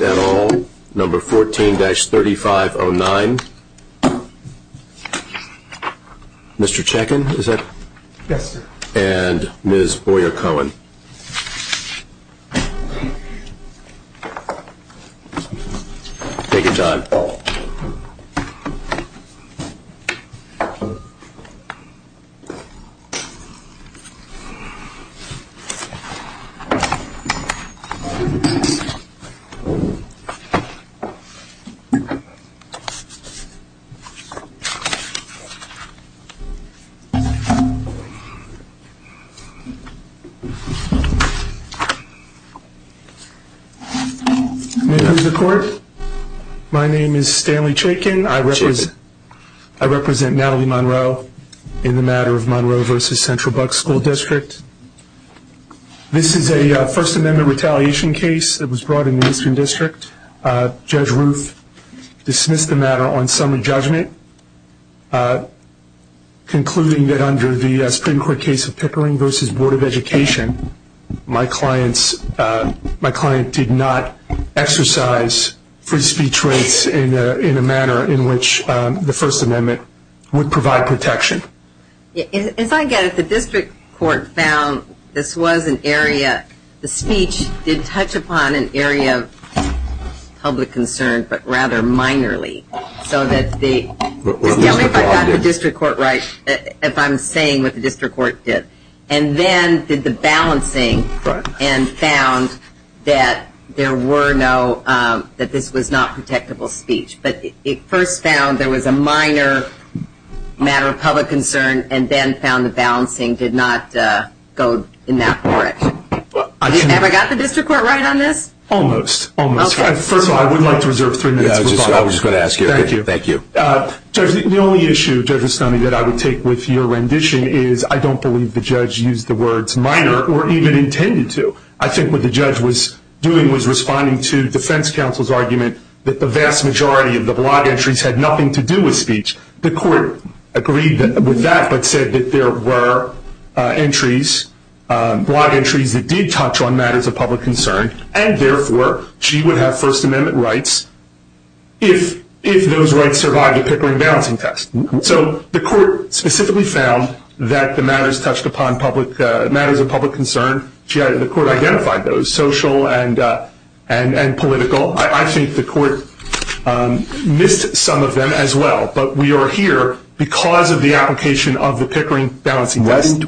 at all, No. 14-3509. Mr. Checkin, is that? Yes, sir. And Ms. Boyer-Cohen. Take your time. Welcome to the court. My name is Stanley Checkin. I represent Natalie Monroe in the matter of Monroe v. Central Bucks School District. This is a First Amendment retaliation case that was brought in the Eastern District. Judge Ruth dismissed the matter on summary judgment, concluding that under the Supreme Court case of Pickering v. Board of Education, my client did not exercise free speech rights in a manner in which the First Amendment would provide protection. As I get it, the district court found this was an area, the speech did touch upon an area of public concern, but rather minorly. So that the, just tell me if I got the district court right, if I'm saying what the district court did. And then did the balancing and found that there were no, that this was not protectable speech. But it first found there was a minor matter of public concern and then found the balancing did not go in that direction. Have I got the district court right on this? Almost. Almost. First of all, I would like to reserve three minutes. I was just going to ask you. Thank you. The only issue, Judge Rustoni, that I would take with your rendition is I don't believe the judge used the words minor or even intended to. I think what the judge was doing was responding to defense counsel's argument that the vast majority of the blog entries had nothing to do with speech. The court agreed with that, but said that there were entries, blog entries that did touch on matters of public concern. And therefore, she would have first amendment rights if those rights survived the Pickering balancing test. So the court specifically found that the matters touched upon public, matters of public concern. The court identified those social and political. I think the court missed some of them as well. But we are here because of the application of the Pickering balancing test. The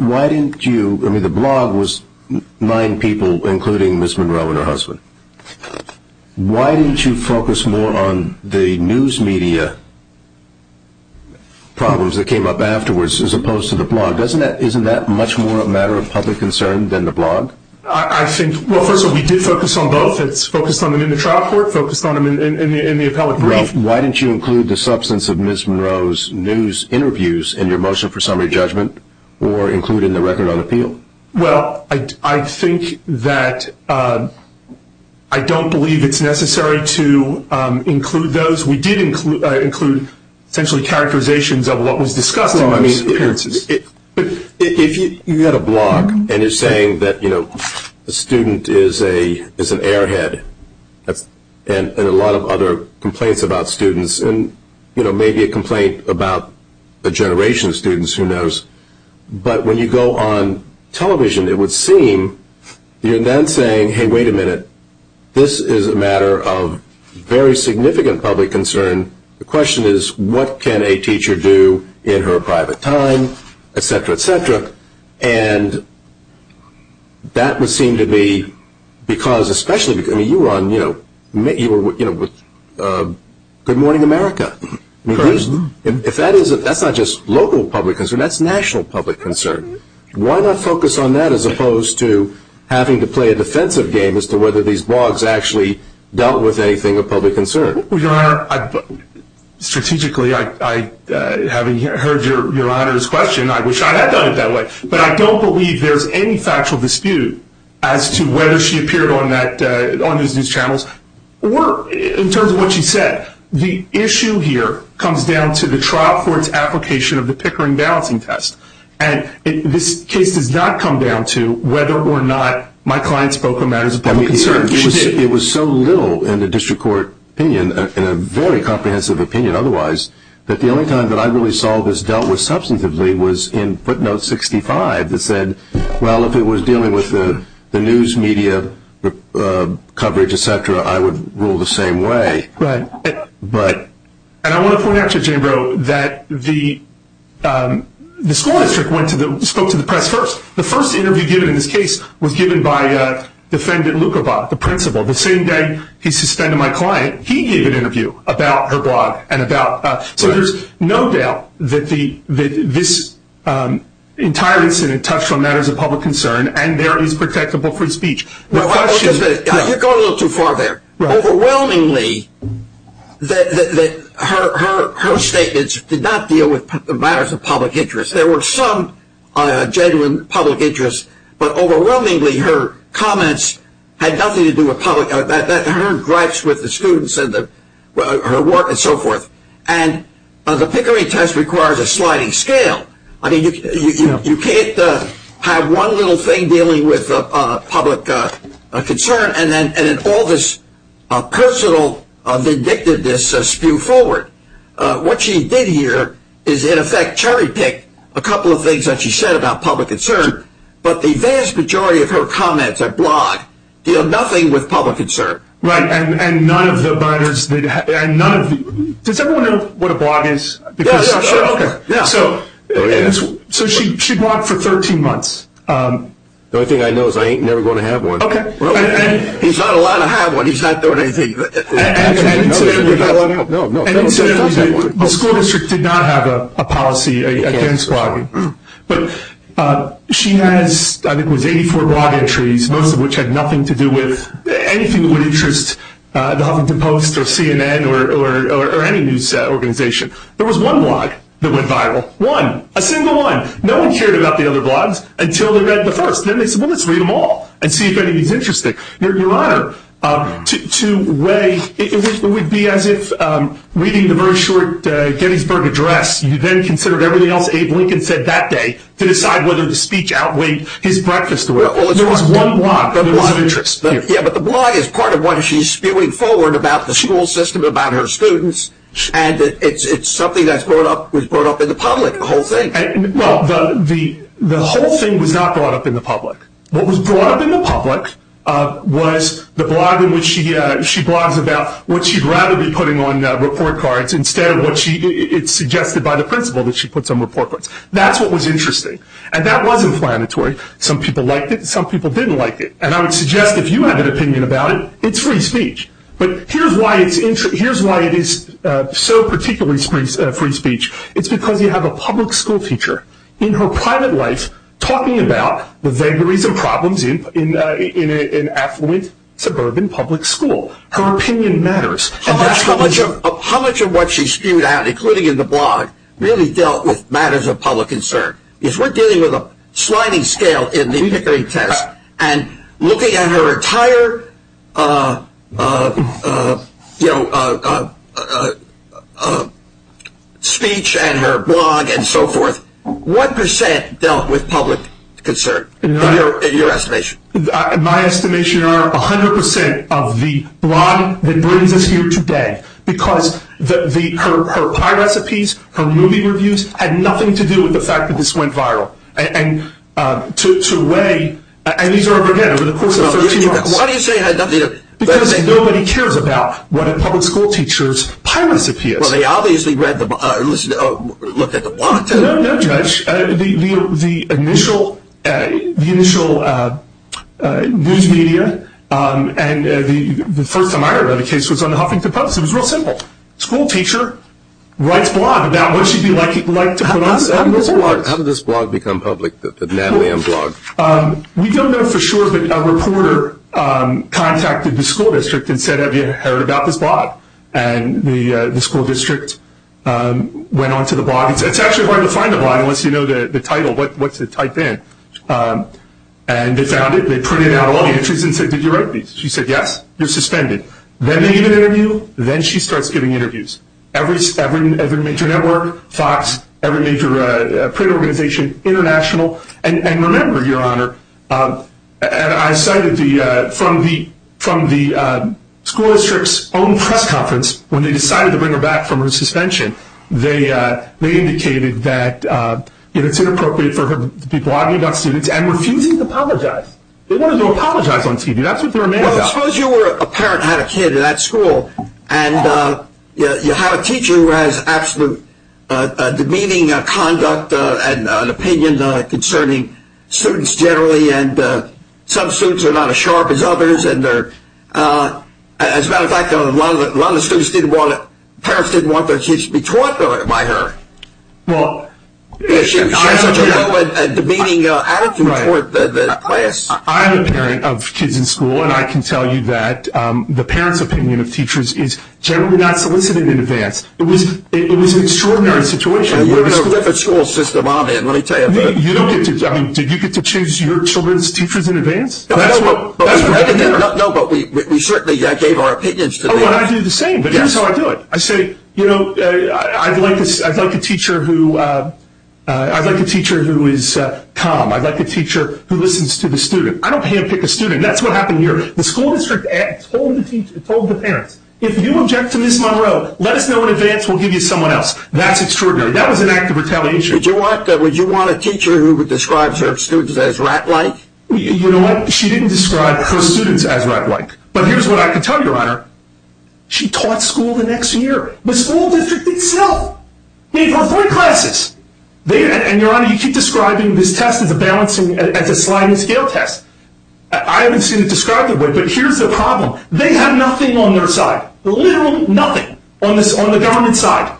blog was nine people, including Ms. Monroe and her husband. Why didn't you focus more on the news media problems that came up afterwards as opposed to the blog? Isn't that much more a matter of public concern than the blog? First of all, we did focus on both. It's focused on them in the trial court, focused on them in the appellate brief. Why didn't you include the substance of Ms. Monroe's news interviews in your motion for summary judgment or include in the record on appeal? Well, I think that I don't believe it's necessary to include those. We did include essentially characterizations of what was discussed in those appearances. But if you had a blog and you're saying that a student is an airhead and a lot of other complaints about students, and maybe a complaint about a generation of students, who knows. But when you go on television, it would seem you're then saying, hey, wait a minute. This is a matter of very significant public concern. The question is, what can a teacher do in her private time, et cetera, et cetera? And that would seem to be because, especially because you were on Good Morning America. If that's not just local public concern, that's national public concern. Why not focus on that as opposed to having to play a defensive game as to whether these blogs actually dealt with anything of public concern? Well, Your Honor, strategically, having heard Your Honor's question, I wish I had done it that way. But I don't believe there's any factual dispute as to whether she appeared on those news channels. Or in terms of what she said, the issue here comes down to the trial court's application of the Pickering balancing test. And this case does not come down to whether or not my client spoke on matters of public concern. It was so little in the district court opinion, in a very comprehensive opinion otherwise, that the only time that I really saw this dealt with substantively was in footnote 65 that said, well, if it was dealing with the news media coverage, et cetera, I would rule the same way. Right. And I want to point out to Jambro that the school district spoke to the press first. The first interview given in this case was given by Defendant Lukobot, the principal. The same day he suspended my client, he gave an interview about her blog. So there's no doubt that this entire incident touched on matters of public concern, and there is protectable free speech. You're going a little too far there. Overwhelmingly, her statements did not deal with matters of public interest. There were some genuine public interests, but overwhelmingly her comments had nothing to do with public – her gripes with the students and her work and so forth. And the Pickering test requires a sliding scale. I mean, you can't have one little thing dealing with public concern and then all this personal vindictiveness spew forward. What she did here is, in effect, cherry pick a couple of things that she said about public concern, but the vast majority of her comments, her blog, deal nothing with public concern. Right. And none of the – does everyone know what a blog is? Yeah, sure. Okay. So she blogged for 13 months. The only thing I know is I ain't never going to have one. Okay. He's not allowed to have one. He's not doing anything. And incidentally, the school district did not have a policy against blogging. But she has, I think it was 84 blog entries, most of which had nothing to do with anything that would interest The Huffington Post or CNN or any news organization. There was one blog that went viral, one, a single one. No one cared about the other blogs until they read the first. Then they said, well, let's read them all and see if anything's interesting. Your Honor, to weigh – it would be as if reading the very short Gettysburg Address, you then considered everything else Abe Lincoln said that day to decide whether the speech outweighed his breakfast. There was one blog that was of interest. Yeah, but the blog is part of what she's spewing forward about the school system, about her students, and it's something that was brought up in the public, the whole thing. Well, the whole thing was not brought up in the public. What was brought up in the public was the blog in which she blogs about what she'd rather be putting on report cards instead of what she – it's suggested by the principal that she put some report cards. That's what was interesting. And that was inflammatory. Some people liked it, some people didn't like it. And I would suggest if you have an opinion about it, it's free speech. But here's why it's – here's why it is so particularly free speech. It's because you have a public school teacher in her private life talking about the vagaries of problems in an affluent suburban public school. Her opinion matters. And that's how much of what she spewed out, including in the blog, really dealt with matters of public concern. If we're dealing with a sliding scale in the Pickering test and looking at her entire speech and her blog and so forth, what percent dealt with public concern in your estimation? My estimation are 100 percent of the blog that brings us here today because her pie recipes, her movie reviews had nothing to do with the fact that this went viral. And to weigh – and these are, again, over the course of 13 months. Why do you say – Because nobody cares about what a public school teacher's pie recipe is. Well, they obviously read the – looked at the blog. No, no, Judge. The initial news media and the first time I ever read a case was on the Huffington Post. It was real simple. School teacher writes blog about what she'd be like to put on – How did this blog become public, the Natalie M. blog? We don't know for sure, but a reporter contacted the school district and said, have you heard about this blog? And the school district went on to the blog. It's actually hard to find a blog unless you know the title, what's it typed in. And they found it. They printed out all the entries and said, did you write these? She said, yes. You're suspended. Then they give an interview. Then she starts giving interviews. Every major network, Fox, every major print organization, international. And remember, Your Honor, I cited from the school district's own press conference, when they decided to bring her back from her suspension, they indicated that it's inappropriate for her to be blogging about students and refusing to apologize. They wanted to apologize on TV. That's what they were mad about. Well, suppose you were a parent, had a kid at that school, and you have a teacher who has absolute demeaning conduct and opinion concerning students generally, and some students are not as sharp as others. As a matter of fact, a lot of the parents didn't want their kids to be taught by her. Well, I'm a parent of kids in school, and I can tell you that the parents' opinion of teachers is generally not solicited in advance. It was an extraordinary situation. You have a different school system I'm in, let me tell you. Did you get to choose your children's teachers in advance? No, but we certainly gave our opinions to them. I do the same, but here's how I do it. I say, you know, I'd like a teacher who is calm. I'd like a teacher who listens to the student. I don't handpick a student. That's what happened here. The school district told the parents, if you object to Ms. Monroe, let us know in advance, we'll give you someone else. That's extraordinary. That was an act of retaliation. Would you want a teacher who would describe her students as rat-like? You know what? She didn't describe her students as rat-like. But here's what I can tell you, Your Honor. She taught school the next year. The school district itself gave her three classes. And, Your Honor, you keep describing this test as a balancing, as a sliding scale test. I haven't seen it described that way, but here's the problem. They have nothing on their side, literally nothing, on the government side,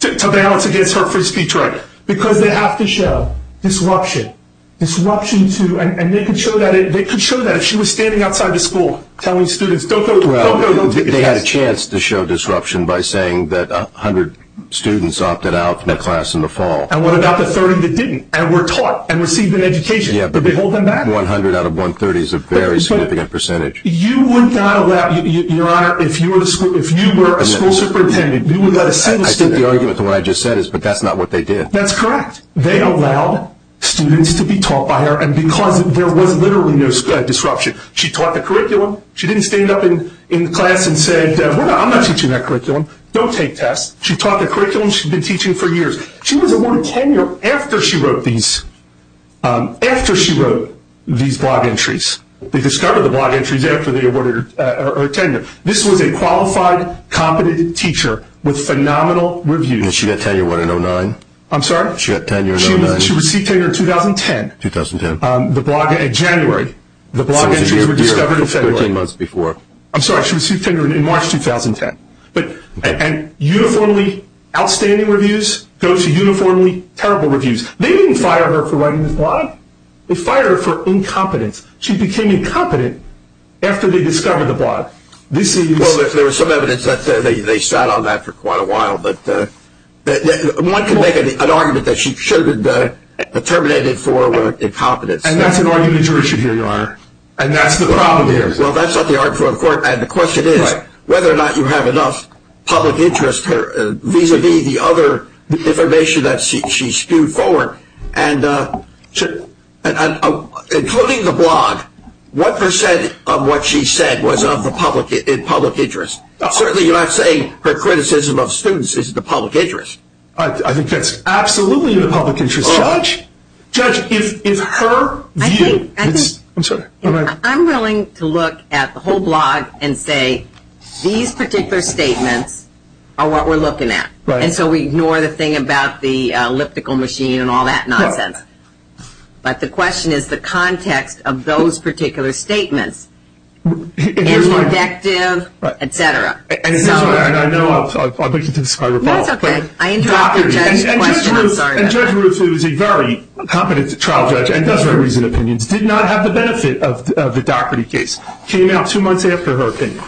to balance against her free speech right, because they have to show disruption, disruption to, and they could show that if she was standing outside the school telling students, don't go, don't go, don't go. They had a chance to show disruption by saying that 100 students opted out from the class in the fall. And what about the 30 that didn't and were taught and received an education? Yeah. Could they hold them back? 100 out of 130 is a very significant percentage. You would not allow, Your Honor, if you were a school superintendent, you would let a single student. I think the argument to what I just said is, but that's not what they did. That's correct. They allowed students to be taught by her and because there was literally no disruption. She taught the curriculum. She didn't stand up in class and say, I'm not teaching that curriculum. Don't take tests. She taught the curriculum she'd been teaching for years. She was awarded tenure after she wrote these, after she wrote these blog entries. They discovered the blog entries after they were awarded tenure. This was a qualified, competent teacher with phenomenal reviews. She got tenure in what, in 2009? I'm sorry? She got tenure in 2009. She received tenure in 2010. 2010. The blog, in January. The blog entries were discovered in February. So it was a year, 15 months before. I'm sorry, she received tenure in March 2010. And uniformly outstanding reviews go to uniformly terrible reviews. They didn't fire her for writing this blog. They fired her for incompetence. She became incompetent after they discovered the blog. Well, there was some evidence that they sat on that for quite a while. But one can make an argument that she should have been terminated for incompetence. And that's an argument that you should hear, Your Honor. And that's the problem here. Well, that's not the argument for the court. And the question is whether or not you have enough public interest vis-a-vis the other information that she spewed forward. And including the blog, what percent of what she said was of the public interest? Certainly you're not saying her criticism of students is the public interest. I think that's absolutely the public interest, Judge. Judge, it's her view. I'm sorry. I'm willing to look at the whole blog and say these particular statements are what we're looking at. And so we ignore the thing about the elliptical machine and all that nonsense. But the question is the context of those particular statements. Interdictive, et cetera. And here's what I know of. I'll get to this if I recall. No, it's okay. I interrupted Judge's question. I'm sorry. And Judge Ruth, who is a very competent trial judge and does very recent opinions, did not have the benefit of the Daugherty case. Came out two months after her opinion.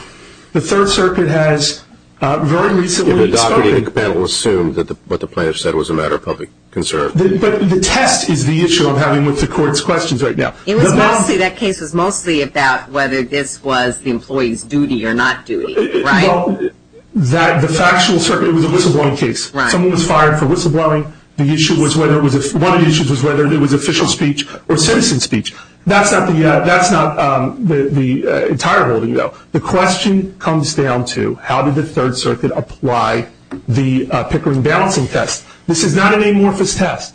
The Third Circuit has very recently spoken. The Daugherty panel assumed that what the plaintiff said was a matter of public concern. But the test is the issue I'm having with the court's questions right now. That case was mostly about whether this was the employee's duty or not duty, right? Well, the factual circuit was a whistleblowing case. Someone was fired for whistleblowing. One of the issues was whether it was official speech or citizen speech. That's not the entire holding, though. The question comes down to how did the Third Circuit apply the Pickering balancing test? This is not an amorphous test.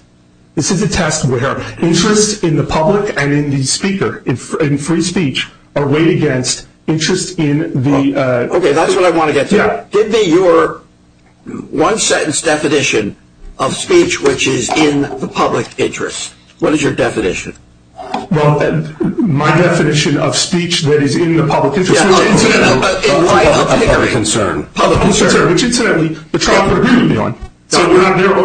This is a test where interest in the public and in the speaker, in free speech, are weighed against interest in the- Okay, that's what I want to get to. Give me your one-sentence definition of speech which is in the public interest. What is your definition? Well, my definition of speech that is in the public interest is- Yeah, in light of Pickering. Public concern. Public concern, which incidentally, the trial could agree with me on. So we're not narrowing-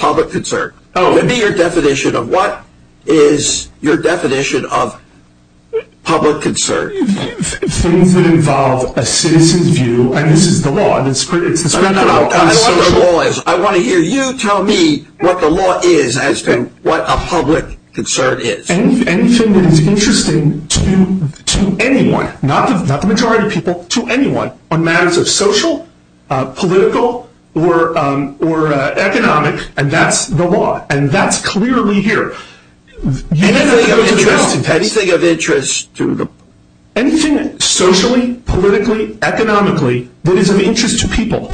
Public concern. Oh. Give me your definition of what is your definition of public concern. Things that involve a citizen's view, and this is the law, and it's the scriptural and social- I want to hear you tell me what the law is as to what a public concern is. Anything that is interesting to anyone, not the majority of people, to anyone on matters of social, political, or economic, and that's the law. And that's clearly here. Anything of interest to them. Anything socially, politically, economically, that is of interest to people.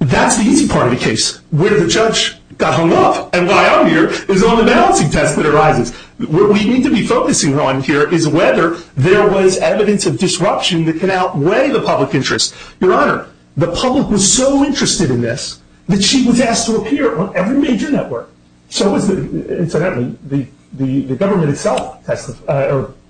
That's the easy part of the case, where the judge got hung up and by our ear is on the balancing test that arises. What we need to be focusing on here is whether there was evidence of disruption that can outweigh the public interest. Your Honor, the public was so interested in this that she was asked to appear on every major network. Incidentally, the government itself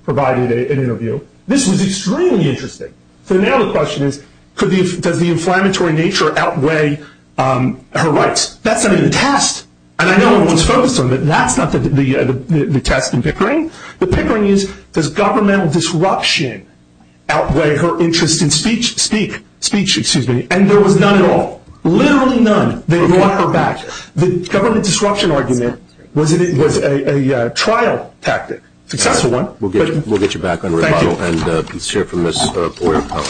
provided an interview. This was extremely interesting. So now the question is, does the inflammatory nature outweigh her rights? That's not even the test. And I know everyone's focused on that. That's not the test and pickering. The pickering is, does governmental disruption outweigh her interest in speech? And there was none at all. Literally none. They brought her back. The government disruption argument was a trial tactic, a successful one. We'll get you back on rebuttal. Thank you. And we'll hear from Ms. Boyer-Cohen.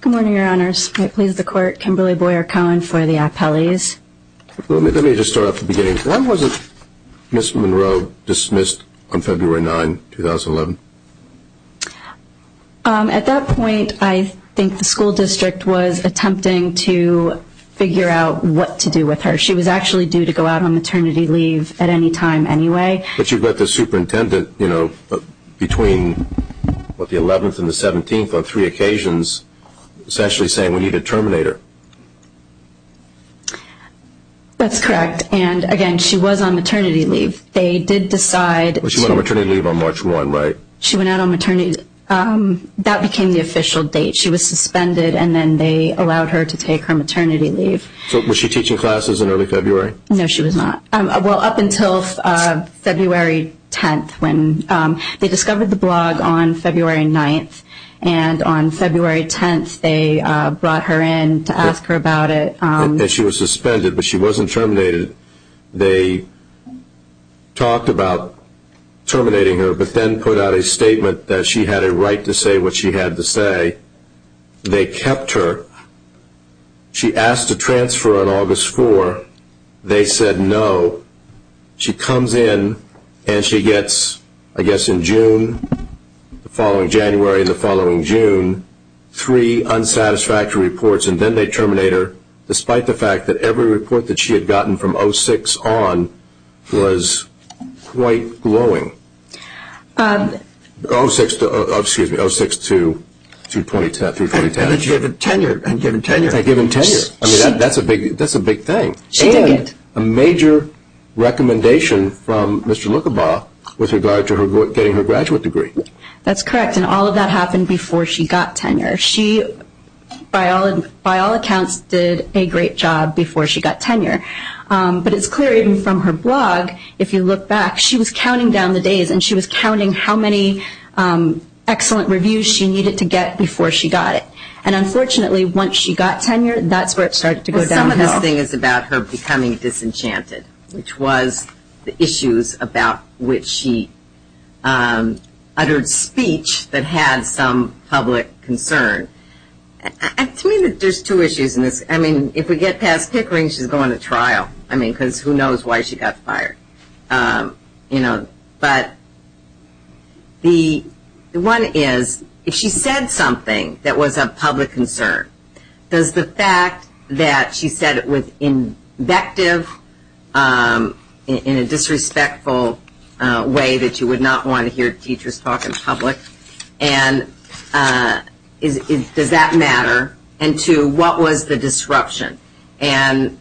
Good morning, Your Honors. May it please the Court, Kimberly Boyer-Cohen for the appellees. Let me just start at the beginning. When was Ms. Monroe dismissed on February 9, 2011? At that point, I think the school district was attempting to figure out what to do with her. She was actually due to go out on maternity leave at any time anyway. But you've got the superintendent, you know, between, what, the 11th and the 17th on three occasions essentially saying we need a terminator. That's correct. And, again, she was on maternity leave. They did decide to Well, she went on maternity leave on March 1, right? She went out on maternity leave. That became the official date. She was suspended, and then they allowed her to take her maternity leave. So was she teaching classes in early February? No, she was not. Well, up until February 10th when they discovered the blog on February 9th. And on February 10th, they brought her in to ask her about it. And she was suspended, but she wasn't terminated. They talked about terminating her, but then put out a statement that she had a right to say what she had to say. They kept her. She asked to transfer on August 4. They said no. She comes in, and she gets, I guess in June, the following January and the following June, three unsatisfactory reports, and then they terminate her, despite the fact that every report that she had gotten from 06 on was quite glowing. 06 to, excuse me, 06 to 322. And given tenure. And given tenure. I mean, that's a big thing. And a major recommendation from Mr. Lucabaugh with regard to getting her graduate degree. That's correct, and all of that happened before she got tenure. She, by all accounts, did a great job before she got tenure. But it's clear even from her blog, if you look back, she was counting down the days, and she was counting how many excellent reviews she needed to get before she got it. And unfortunately, once she got tenure, that's where it started to go downhill. Some of this thing is about her becoming disenchanted, which was the issues about which she uttered speech that had some public concern. To me, there's two issues in this. I mean, if we get past Pickering, she's going to trial. I mean, because who knows why she got fired. But the one is, if she said something that was of public concern, does the fact that she said it was invective in a disrespectful way that you would not want to hear teachers talk in public, does that matter? And two, what was the disruption? And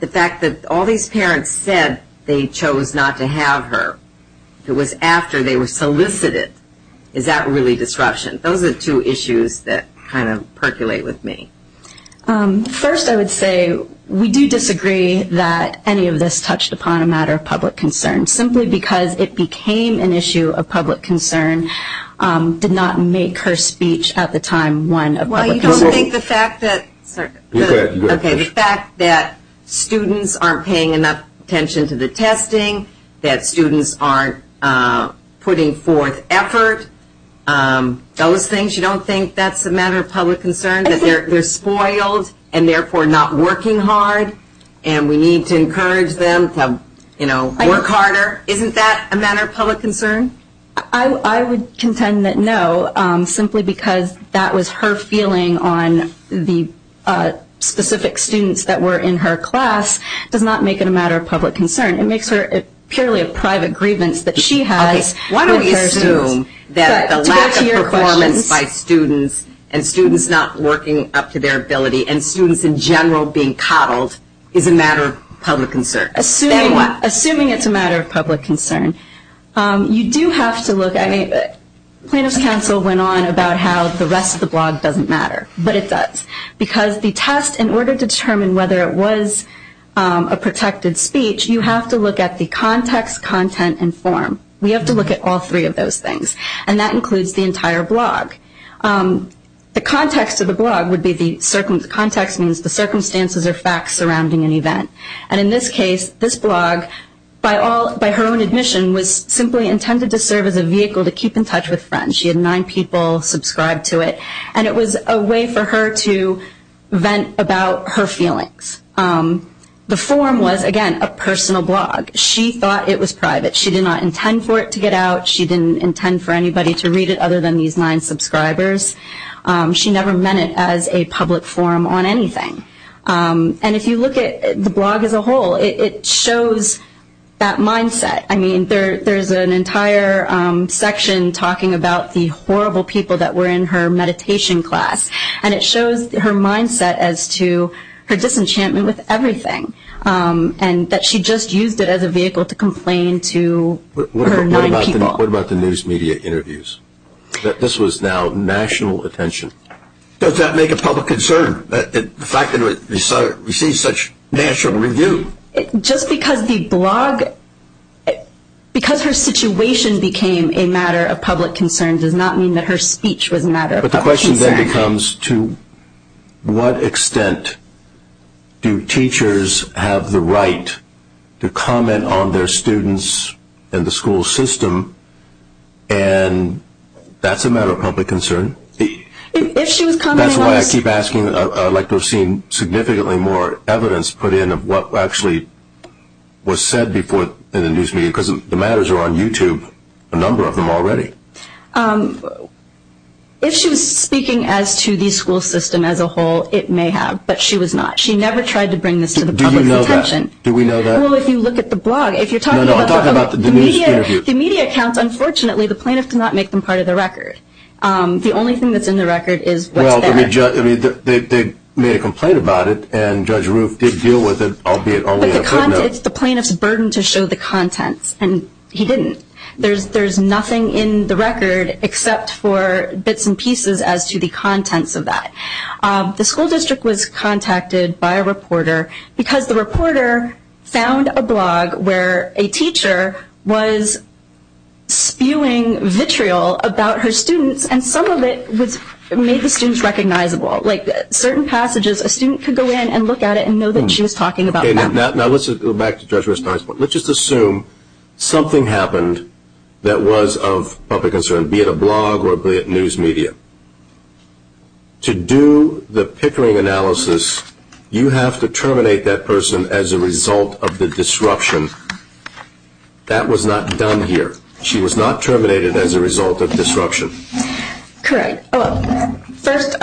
the fact that all these parents said they chose not to have her, it was after they were solicited, is that really disruption? Those are the two issues that kind of percolate with me. First, I would say we do disagree that any of this touched upon a matter of public concern, simply because it became an issue of public concern, Well, you don't think the fact that students aren't paying enough attention to the testing, that students aren't putting forth effort, those things, you don't think that's a matter of public concern, that they're spoiled and therefore not working hard and we need to encourage them to work harder? Isn't that a matter of public concern? I would contend that no, simply because that was her feeling on the specific students that were in her class, does not make it a matter of public concern. It makes it purely a private grievance that she has. Why don't we assume that the lack of performance by students and students not working up to their ability and students in general being coddled is a matter of public concern? Assuming it's a matter of public concern. You do have to look at it. Plaintiff's counsel went on about how the rest of the blog doesn't matter. But it does. Because the test in order to determine whether it was a protected speech, you have to look at the context, content, and form. We have to look at all three of those things. And that includes the entire blog. The context of the blog would be, the context means the circumstances or facts surrounding an event. And in this case, this blog, by her own admission, was simply intended to serve as a vehicle to keep in touch with friends. She had nine people subscribe to it. And it was a way for her to vent about her feelings. The form was, again, a personal blog. She thought it was private. She did not intend for it to get out. She didn't intend for anybody to read it other than these nine subscribers. She never meant it as a public forum on anything. And if you look at the blog as a whole, it shows that mindset. I mean, there's an entire section talking about the horrible people that were in her meditation class. And it shows her mindset as to her disenchantment with everything and that she just used it as a vehicle to complain to her nine people. What about the news media interviews? This was now national attention. Does that make a public concern? The fact that it received such national review. Just because the blog, because her situation became a matter of public concern does not mean that her speech was a matter of public concern. But the question then becomes to what extent do teachers have the right to comment on their students and the school system, and that's a matter of public concern. That's why I keep asking. I'd like to have seen significantly more evidence put in of what actually was said before in the news media. Because the matters are on YouTube, a number of them already. If she was speaking as to the school system as a whole, it may have. But she was not. She never tried to bring this to the public's attention. Do we know that? Well, if you look at the blog. No, no, I'm talking about the news interview. The media accounts, unfortunately, the plaintiff did not make them part of the record. The only thing that's in the record is what's there. Well, they made a complaint about it, and Judge Roof did deal with it, albeit only in a footnote. But it's the plaintiff's burden to show the contents, and he didn't. There's nothing in the record except for bits and pieces as to the contents of that. The school district was contacted by a reporter because the reporter found a blog where a teacher was spewing vitriol about her students, and some of it made the students recognizable. Like certain passages, a student could go in and look at it and know that she was talking about that. Now let's go back to Judge Roof's point. Let's just assume something happened that was of public concern, be it a blog or be it news media. To do the Pickering analysis, you have to terminate that person as a result of the disruption. That was not done here. She was not terminated as a result of disruption. Correct. First,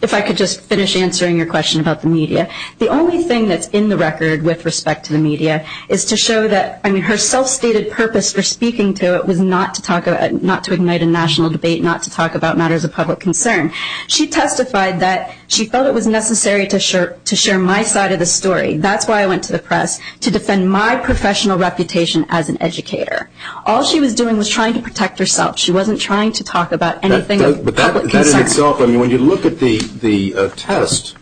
if I could just finish answering your question about the media. The only thing that's in the record with respect to the media is to show that her self-stated purpose for speaking to it was not to ignite a national debate, not to talk about matters of public concern. She testified that she felt it was necessary to share my side of the story. That's why I went to the press, to defend my professional reputation as an educator. All she was doing was trying to protect herself. She wasn't trying to talk about anything of public concern. But that in itself, when you look at the test,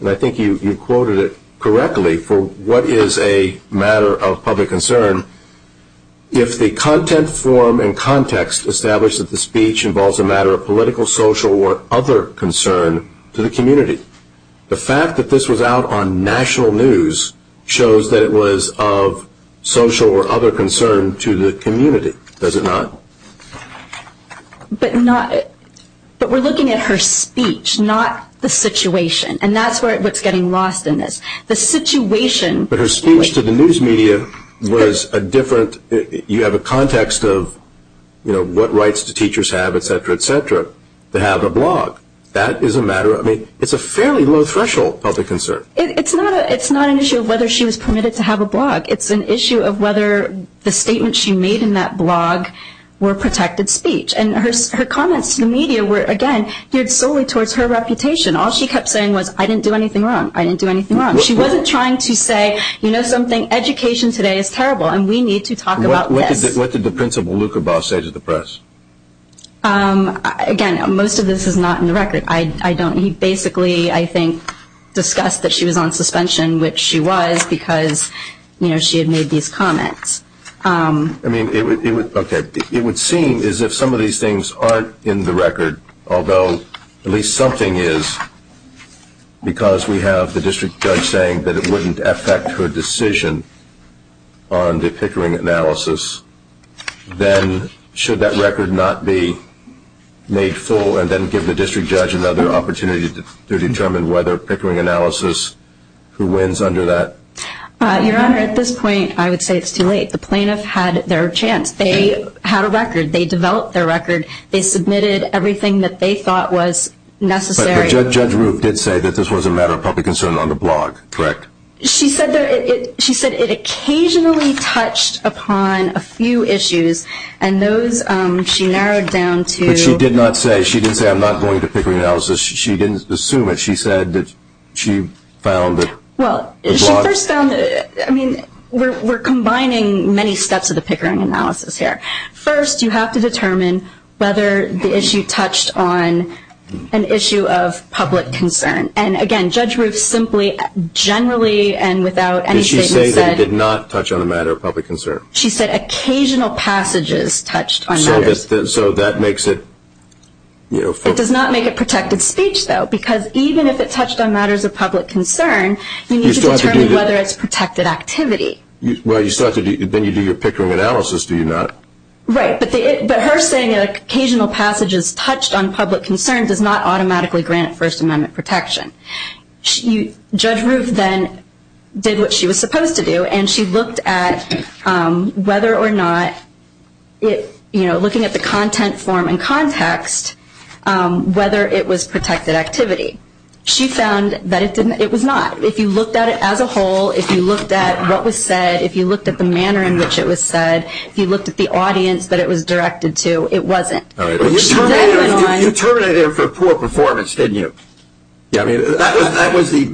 and I think you quoted it correctly, for what is a matter of public concern, if the content, form, and context establish that the speech involves a matter of political, social, or other concern to the community, the fact that this was out on national news shows that it was of social or other concern to the community. Does it not? But we're looking at her speech, not the situation. And that's what's getting lost in this. The situation. But her speech to the news media was a different, you have a context of, you know, what rights do teachers have, et cetera, et cetera, to have a blog. That is a matter of, I mean, it's a fairly low threshold of public concern. It's not an issue of whether she was permitted to have a blog. It's an issue of whether the statements she made in that blog were protected speech. And her comments to the media were, again, geared solely towards her reputation. All she kept saying was, I didn't do anything wrong. I didn't do anything wrong. She wasn't trying to say, you know, something, education today is terrible, and we need to talk about this. What did the principal, Luca Baugh, say to the press? Again, most of this is not in the record. I don't, he basically, I think, discussed that she was on suspension, which she was, because, you know, she had made these comments. I mean, it would, okay, it would seem as if some of these things aren't in the record, although at least something is, because we have the district judge saying that it wouldn't affect her decision on the Pickering analysis. Then should that record not be made full and then give the district judge another opportunity to determine whether Pickering analysis, who wins under that? Your Honor, at this point, I would say it's too late. The plaintiff had their chance. They had a record. They developed their record. They submitted everything that they thought was necessary. But Judge Ruth did say that this was a matter of public concern on the blog, correct? She said it occasionally touched upon a few issues, and those she narrowed down to. But she did not say, she didn't say, I'm not going to Pickering analysis. She didn't assume it. She said that she found that the blog. Well, she first found that, I mean, we're combining many steps of the Pickering analysis here. First, you have to determine whether the issue touched on an issue of public concern. And, again, Judge Ruth simply generally and without any statement said. Did she say that it did not touch on a matter of public concern? She said occasional passages touched on matters. So that makes it, you know. It does not make it protected speech, though, because even if it touched on matters of public concern, you need to determine whether it's protected activity. Well, then you do your Pickering analysis, do you not? Right. But her saying that occasional passages touched on public concern does not automatically grant First Amendment protection. Judge Ruth then did what she was supposed to do, and she looked at whether or not, you know, looking at the content form and context, whether it was protected activity. She found that it was not. If you looked at it as a whole, if you looked at what was said, if you looked at the manner in which it was said, if you looked at the audience that it was directed to, it wasn't. All right. You terminated her for poor performance, didn't you? Yeah, I mean, that was the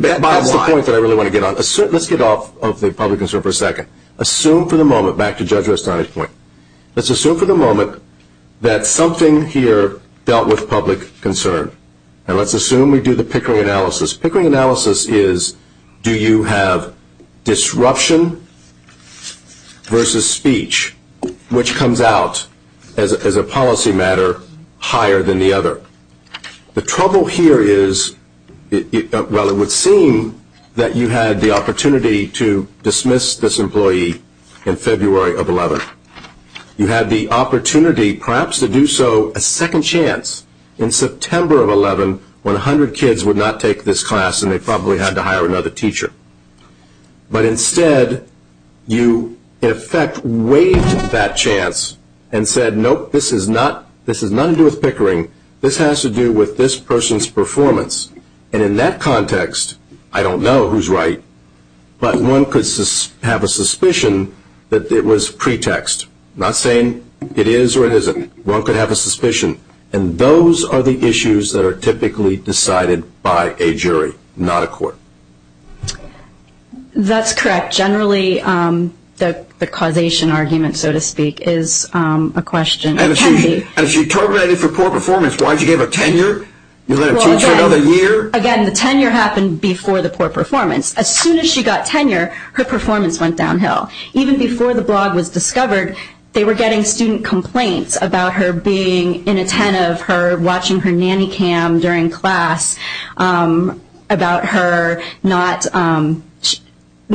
point that I really want to get on. Let's get off of the public concern for a second. Assume for the moment, back to Judge Rustone's point. Let's assume for the moment that something here dealt with public concern. And let's assume we do the Pickering analysis. Pickering analysis is do you have disruption versus speech, which comes out as a policy matter higher than the other. The trouble here is, well, it would seem that you had the opportunity to dismiss this employee in February of 2011. You had the opportunity, perhaps, to do so a second chance in September of 2011 when 100 kids would not take this class and they probably had to hire another teacher. But instead, you, in effect, waived that chance and said, nope, this has nothing to do with Pickering. This has to do with this person's performance. And in that context, I don't know who's right, but one could have a suspicion that it was pretext. I'm not saying it is or it isn't. One could have a suspicion. And those are the issues that are typically decided by a jury, not a court. That's correct. Generally, the causation argument, so to speak, is a question. And if she terminated for poor performance, why did you give her tenure? You let her teach for another year? Again, the tenure happened before the poor performance. As soon as she got tenure, her performance went downhill. Even before the blog was discovered, they were getting student complaints about her being inattentive, her watching her nanny cam during class, about her not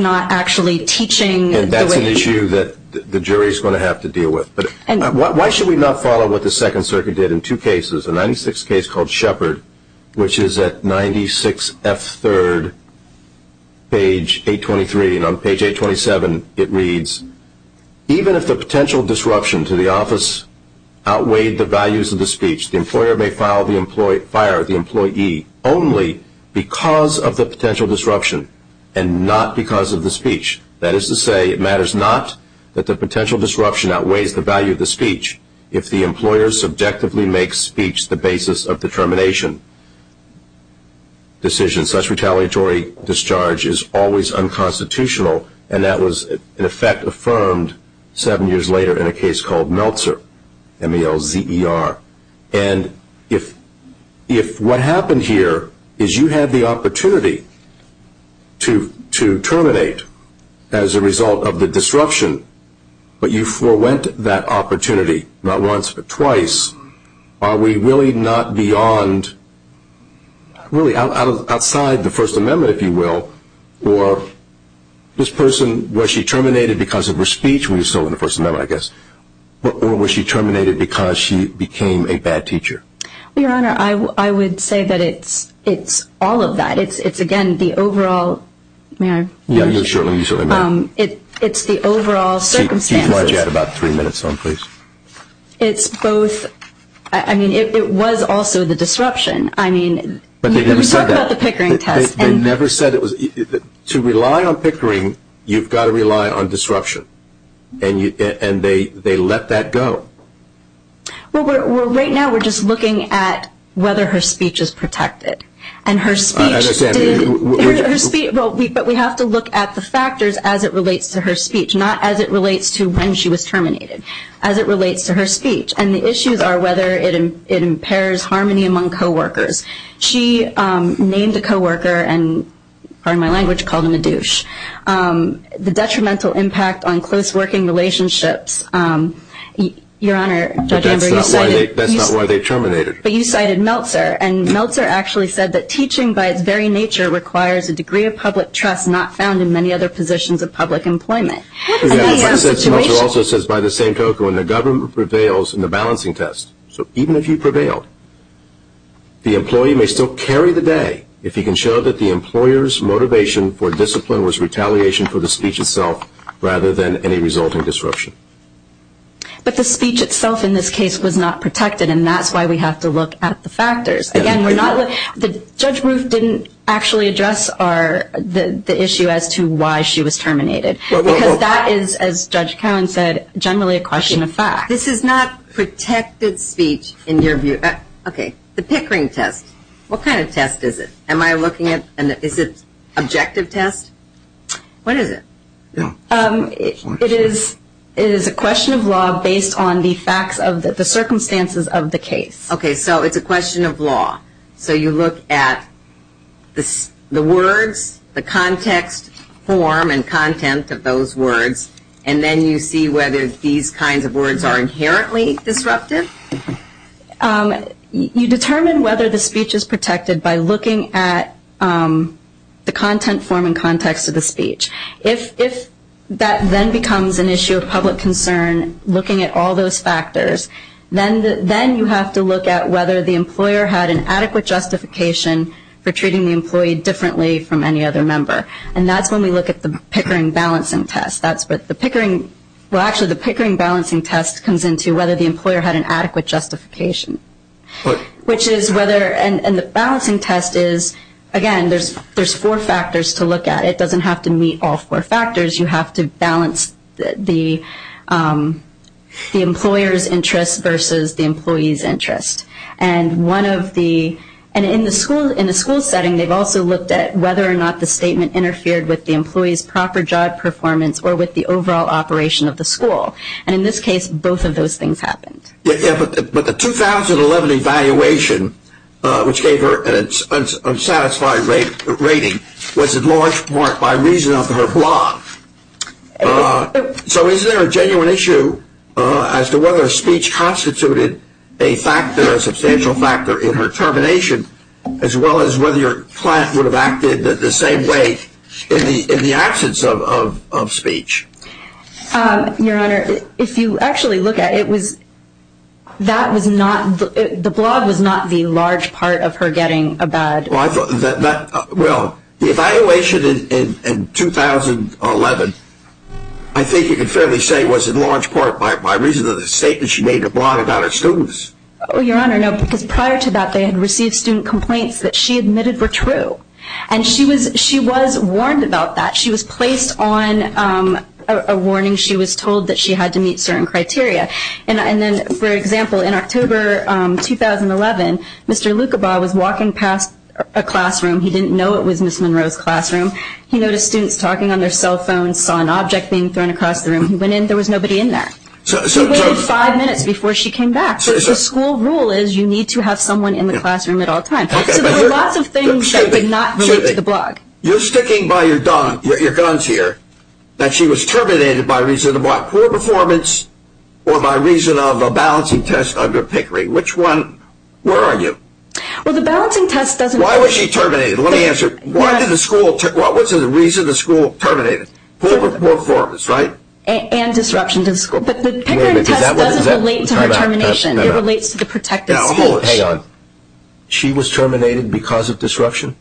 actually teaching. And that's an issue that the jury is going to have to deal with. Why should we not follow what the Second Circuit did in two cases, called Shepard, which is at 96F3rd, page 823. And on page 827, it reads, even if the potential disruption to the office outweighed the values of the speech, the employer may fire the employee only because of the potential disruption and not because of the speech. That is to say, it matters not that the potential disruption outweighs the value of the speech if the employer subjectively makes speech the basis of the termination decision. Such retaliatory discharge is always unconstitutional, and that was in effect affirmed seven years later in a case called Meltzer, M-E-L-Z-E-R. And if what happened here is you had the opportunity to terminate as a result of the disruption, but you forewent that opportunity not once but twice, are we really not beyond, really outside the First Amendment, if you will, or this person, was she terminated because of her speech, when she was still in the First Amendment, I guess, or was she terminated because she became a bad teacher? Well, Your Honor, I would say that it's all of that. It's, again, the overall, may I? Yeah, you certainly may. It's the overall circumstances. Keep Margie at about three minutes on, please. It's both. I mean, it was also the disruption. I mean, you talk about the Pickering test. They never said it was. To rely on Pickering, you've got to rely on disruption, and they let that go. Well, right now we're just looking at whether her speech is protected, and her speech did. I understand. Her speech, but we have to look at the factors as it relates to her speech, not as it relates to when she was terminated, as it relates to her speech, and the issues are whether it impairs harmony among coworkers. She named a coworker, and pardon my language, called him a douche. The detrimental impact on close working relationships, Your Honor, Judge Amber, you cited. That's not why they terminated. But you cited Meltzer, and Meltzer actually said that teaching by its very nature requires a degree of public trust not found in many other positions of public employment. Meltzer also says, by the same token, when the government prevails in the balancing test, so even if you prevailed, the employee may still carry the day if he can show that the employer's motivation for discipline was retaliation for the speech itself rather than any resulting disruption. But the speech itself in this case was not protected, and that's why we have to look at the factors. Again, Judge Ruth didn't actually address the issue as to why she was terminated, because that is, as Judge Cowen said, generally a question of fact. This is not protected speech in your view. Okay, the Pickering test, what kind of test is it? Am I looking at an objective test? What is it? It is a question of law based on the facts of the circumstances of the case. Okay, so it's a question of law. So you look at the words, the context, form, and content of those words, and then you see whether these kinds of words are inherently disruptive? You determine whether the speech is protected by looking at the content, form, and context of the speech. If that then becomes an issue of public concern, looking at all those factors, then you have to look at whether the employer had an adequate justification for treating the employee differently from any other member. And that's when we look at the Pickering balancing test. Well, actually the Pickering balancing test comes into whether the employer had an adequate justification. And the balancing test is, again, there's four factors to look at. It doesn't have to meet all four factors. You have to balance the employer's interest versus the employee's interest. And in the school setting, they've also looked at whether or not the statement interfered with the employee's proper job performance or with the overall operation of the school. And in this case, both of those things happened. But the 2011 evaluation, which gave her an unsatisfied rating, was in large part by reason of her blog. So is there a genuine issue as to whether speech constituted a factor, a substantial factor in her termination, as well as whether your client would have acted the same way in the absence of speech? Your Honor, if you actually look at it, the blog was not the large part of her getting a bad. Well, the evaluation in 2011, I think you can fairly say, was in large part by reason of the statement she made to blog about her students. Your Honor, no, because prior to that, they had received student complaints that she admitted were true. And she was warned about that. She was placed on a warning. She was told that she had to meet certain criteria. And then, for example, in October 2011, Mr. Lucabaugh was walking past a classroom. He didn't know it was Ms. Monroe's classroom. He noticed students talking on their cell phones, saw an object being thrown across the room. He went in. There was nobody in there. He waited five minutes before she came back. The school rule is you need to have someone in the classroom at all times. So there were lots of things that did not relate to the blog. You're sticking by your guns here, that she was terminated by reason of what? Poor performance or by reason of a balancing test under Pickering. Which one? Where are you? Well, the balancing test doesn't… Why was she terminated? Let me answer. Why did the school… What was the reason the school terminated? Poor performance, right? And disruption to the school. But the Pickering test doesn't relate to her termination. It relates to the protected schools. Now, hold on. She was terminated because of disruption?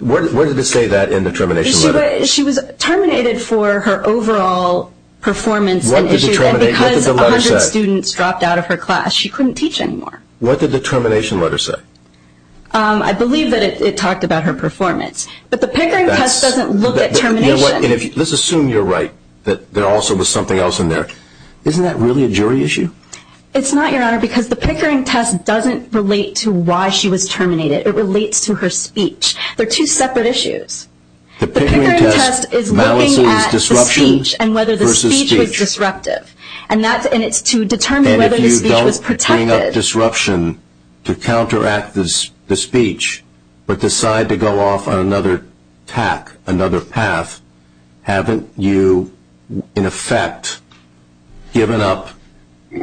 Where did it say that in the termination letter? She was terminated for her overall performance and issues. What did the letter say? And because 100 students dropped out of her class, she couldn't teach anymore. What did the termination letter say? I believe that it talked about her performance. But the Pickering test doesn't look at termination. You know what? Let's assume you're right, that there also was something else in there. Isn't that really a jury issue? It's not, Your Honor, because the Pickering test doesn't relate to why she was terminated. It relates to her speech. They're two separate issues. The Pickering test is looking at the speech and whether the speech was disruptive. And it's to determine whether the speech was protected. And if you don't bring up disruption to counteract the speech but decide to go off on another tack, another path, haven't you, in effect, given up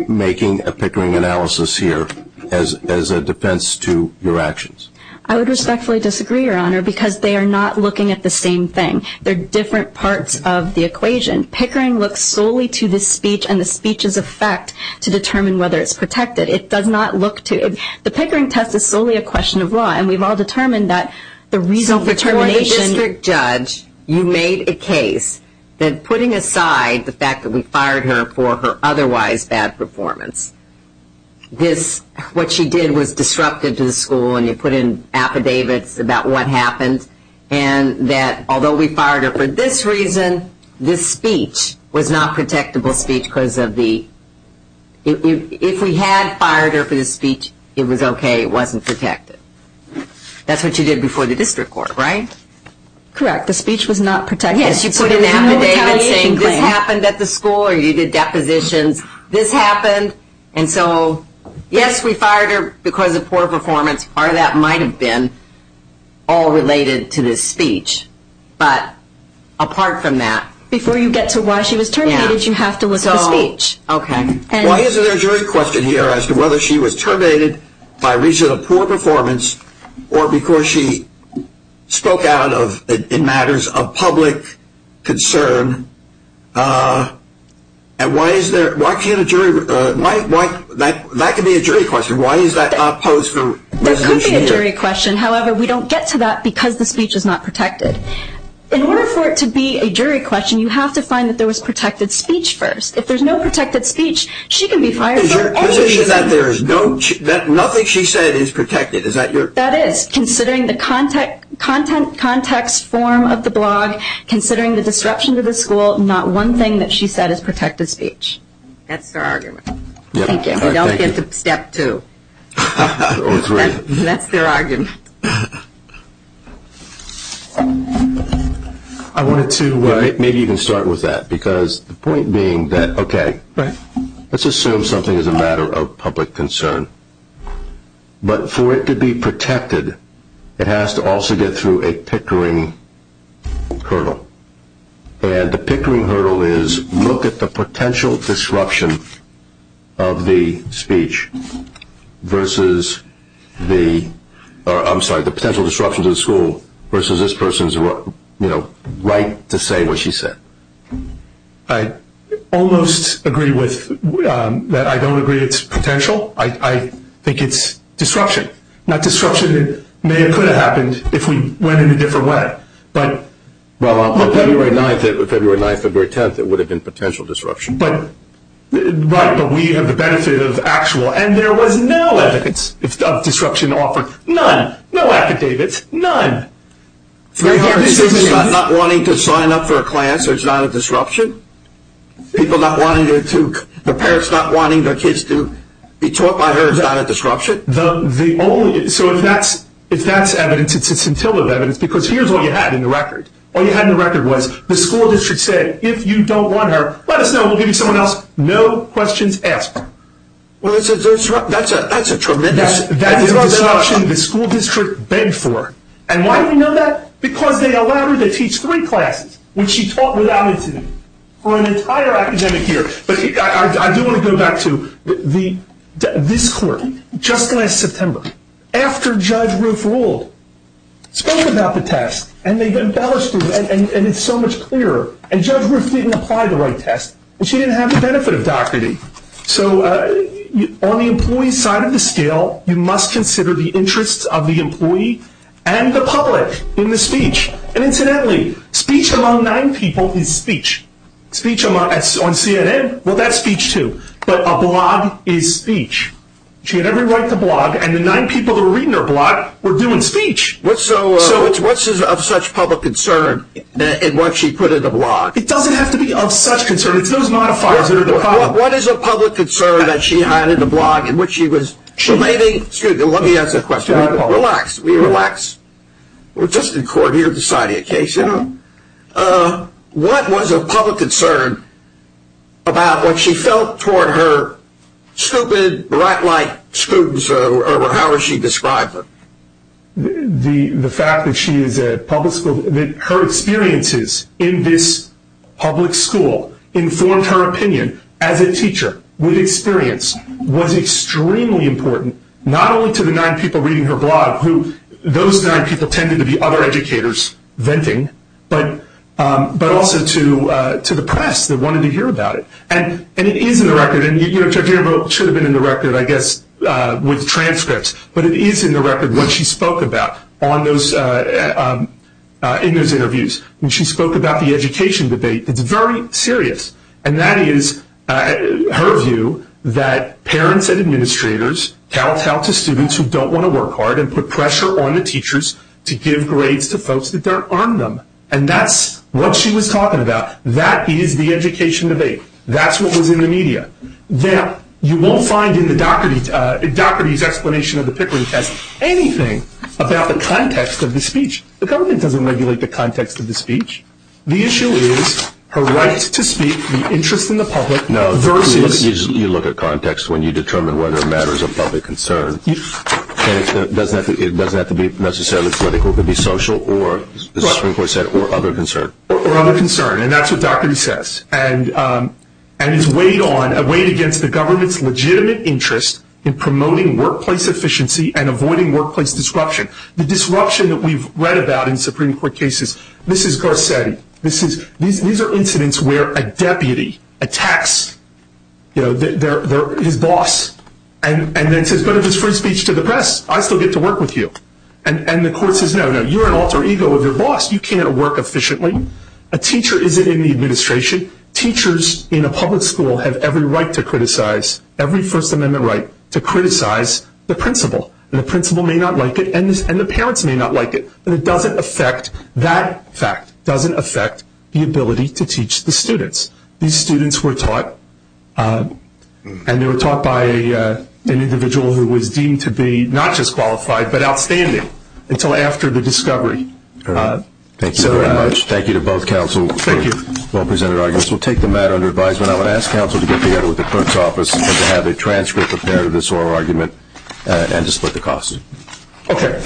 making a Pickering analysis here as a defense to your actions? I would respectfully disagree, Your Honor, because they are not looking at the same thing. They're different parts of the equation. Pickering looks solely to the speech and the speech's effect to determine whether it's protected. It does not look to – the Pickering test is solely a question of law. And we've all determined that the reason for termination – that putting aside the fact that we fired her for her otherwise bad performance, this – what she did was disruptive to the school, and you put in affidavits about what happened, and that although we fired her for this reason, this speech was not a protectable speech because of the – if we had fired her for this speech, it was okay. It wasn't protected. That's what you did before the district court, right? Correct. The speech was not protected. Yes, you put in an affidavit saying this happened at the school or you did depositions. This happened. And so, yes, we fired her because of poor performance. Part of that might have been all related to this speech. But apart from that – Before you get to why she was terminated, you have to look at the speech. Okay. Well, here's a jury question here as to whether she was terminated by reason of poor performance or because she spoke out in matters of public concern. And why is there – why can't a jury – that could be a jury question. Why is that opposed to resolution here? That could be a jury question. However, we don't get to that because the speech is not protected. In order for it to be a jury question, you have to find that there was protected speech first. If there's no protected speech, she can be fired for – Nothing she said is protected. Is that your – That is. Considering the context form of the blog, considering the disruption to the school, not one thing that she said is protected speech. That's their argument. Thank you. We don't get to step two. Or three. I wanted to maybe even start with that because the point being that, okay, let's assume something is a matter of public concern. But for it to be protected, it has to also get through a pickering hurdle. And the pickering hurdle is look at the potential disruption of the speech versus the – I'm sorry, the potential disruption to the school versus this person's right to say what she said. I almost agree with – that I don't agree it's potential. I think it's disruption. Not disruption that may or could have happened if we went in a different way. But – Well, on February 9th, February 10th, it would have been potential disruption. Right, but we have the benefit of actual – and there was no evidence of disruption offered. None. No affidavits. None. Three parents not wanting to sign up for a class, there's not a disruption? People not wanting to – the parents not wanting their kids to be taught by her, there's not a disruption? The only – so if that's evidence, it's scintillative evidence because here's all you had in the record. All you had in the record was the school district said, if you don't want her, let us know, we'll give you someone else. No questions asked. Well, that's a tremendous – That is a disruption the school district begged for. And why do we know that? Because they allowed her to teach three classes, which she taught without incident, for an entire academic year. But I do want to go back to this court. Just last September, after Judge Roof ruled, spoke about the test, and they embellished it, and it's so much clearer. And Judge Roof didn't apply the right test, and she didn't have the benefit of Doherty. So on the employee side of the scale, you must consider the interests of the employee and the public in the speech. And incidentally, speech among nine people is speech. Speech on CNN, well, that's speech too. But a blog is speech. She had every right to blog, and the nine people who were reading her blog were doing speech. So what's of such public concern in what she put in the blog? It doesn't have to be of such concern. It's those modifiers that are the problem. What is of public concern that she had in the blog in which she was relating? Excuse me. Let me ask a question. Relax. Will you relax? We're just in court here deciding a case. What was of public concern about what she felt toward her stupid, brat-like students, or however she described them? The fact that her experiences in this public school informed her opinion as a teacher with experience was extremely important, not only to the nine people reading her blog, who those nine people tended to be other educators venting, but also to the press that wanted to hear about it. And it is in the record. It should have been in the record, I guess, with transcripts. But it is in the record what she spoke about in those interviews. When she spoke about the education debate, it's very serious. And that is her view that parents and administrators tell students who don't want to work hard and put pressure on the teachers to give grades to folks that don't earn them. And that's what she was talking about. That is the education debate. That's what was in the media. Now, you won't find in Doherty's explanation of the Pickering test anything about the context of the speech. The government doesn't regulate the context of the speech. The issue is her right to speak, the interest in the public. You look at context when you determine whether a matter is of public concern. It doesn't have to be necessarily political. It could be social or, as the Supreme Court said, or other concern. Or other concern. And that's what Doherty says. And it's weighed against the government's legitimate interest in promoting workplace efficiency and avoiding workplace disruption. The disruption that we've read about in Supreme Court cases, this is Garcetti. These are incidents where a deputy attacks his boss and then says, but if it's free speech to the press, I still get to work with you. And the court says, no, no, you're an alter ego of your boss. You can't work efficiently. A teacher isn't in the administration. Teachers in a public school have every right to criticize, every First Amendment right, to criticize the principal. And the principal may not like it, and the parents may not like it. And it doesn't affect, that fact doesn't affect the ability to teach the students. These students were taught, and they were taught by an individual who was deemed to be not just qualified, but outstanding until after the discovery. Thank you very much. Thank you to both counsel. Thank you. Both presented arguments. We'll take the matter under advisement. I would ask counsel to get together with the clerk's office and to have a transcript of this oral argument and to split the cost. Okay.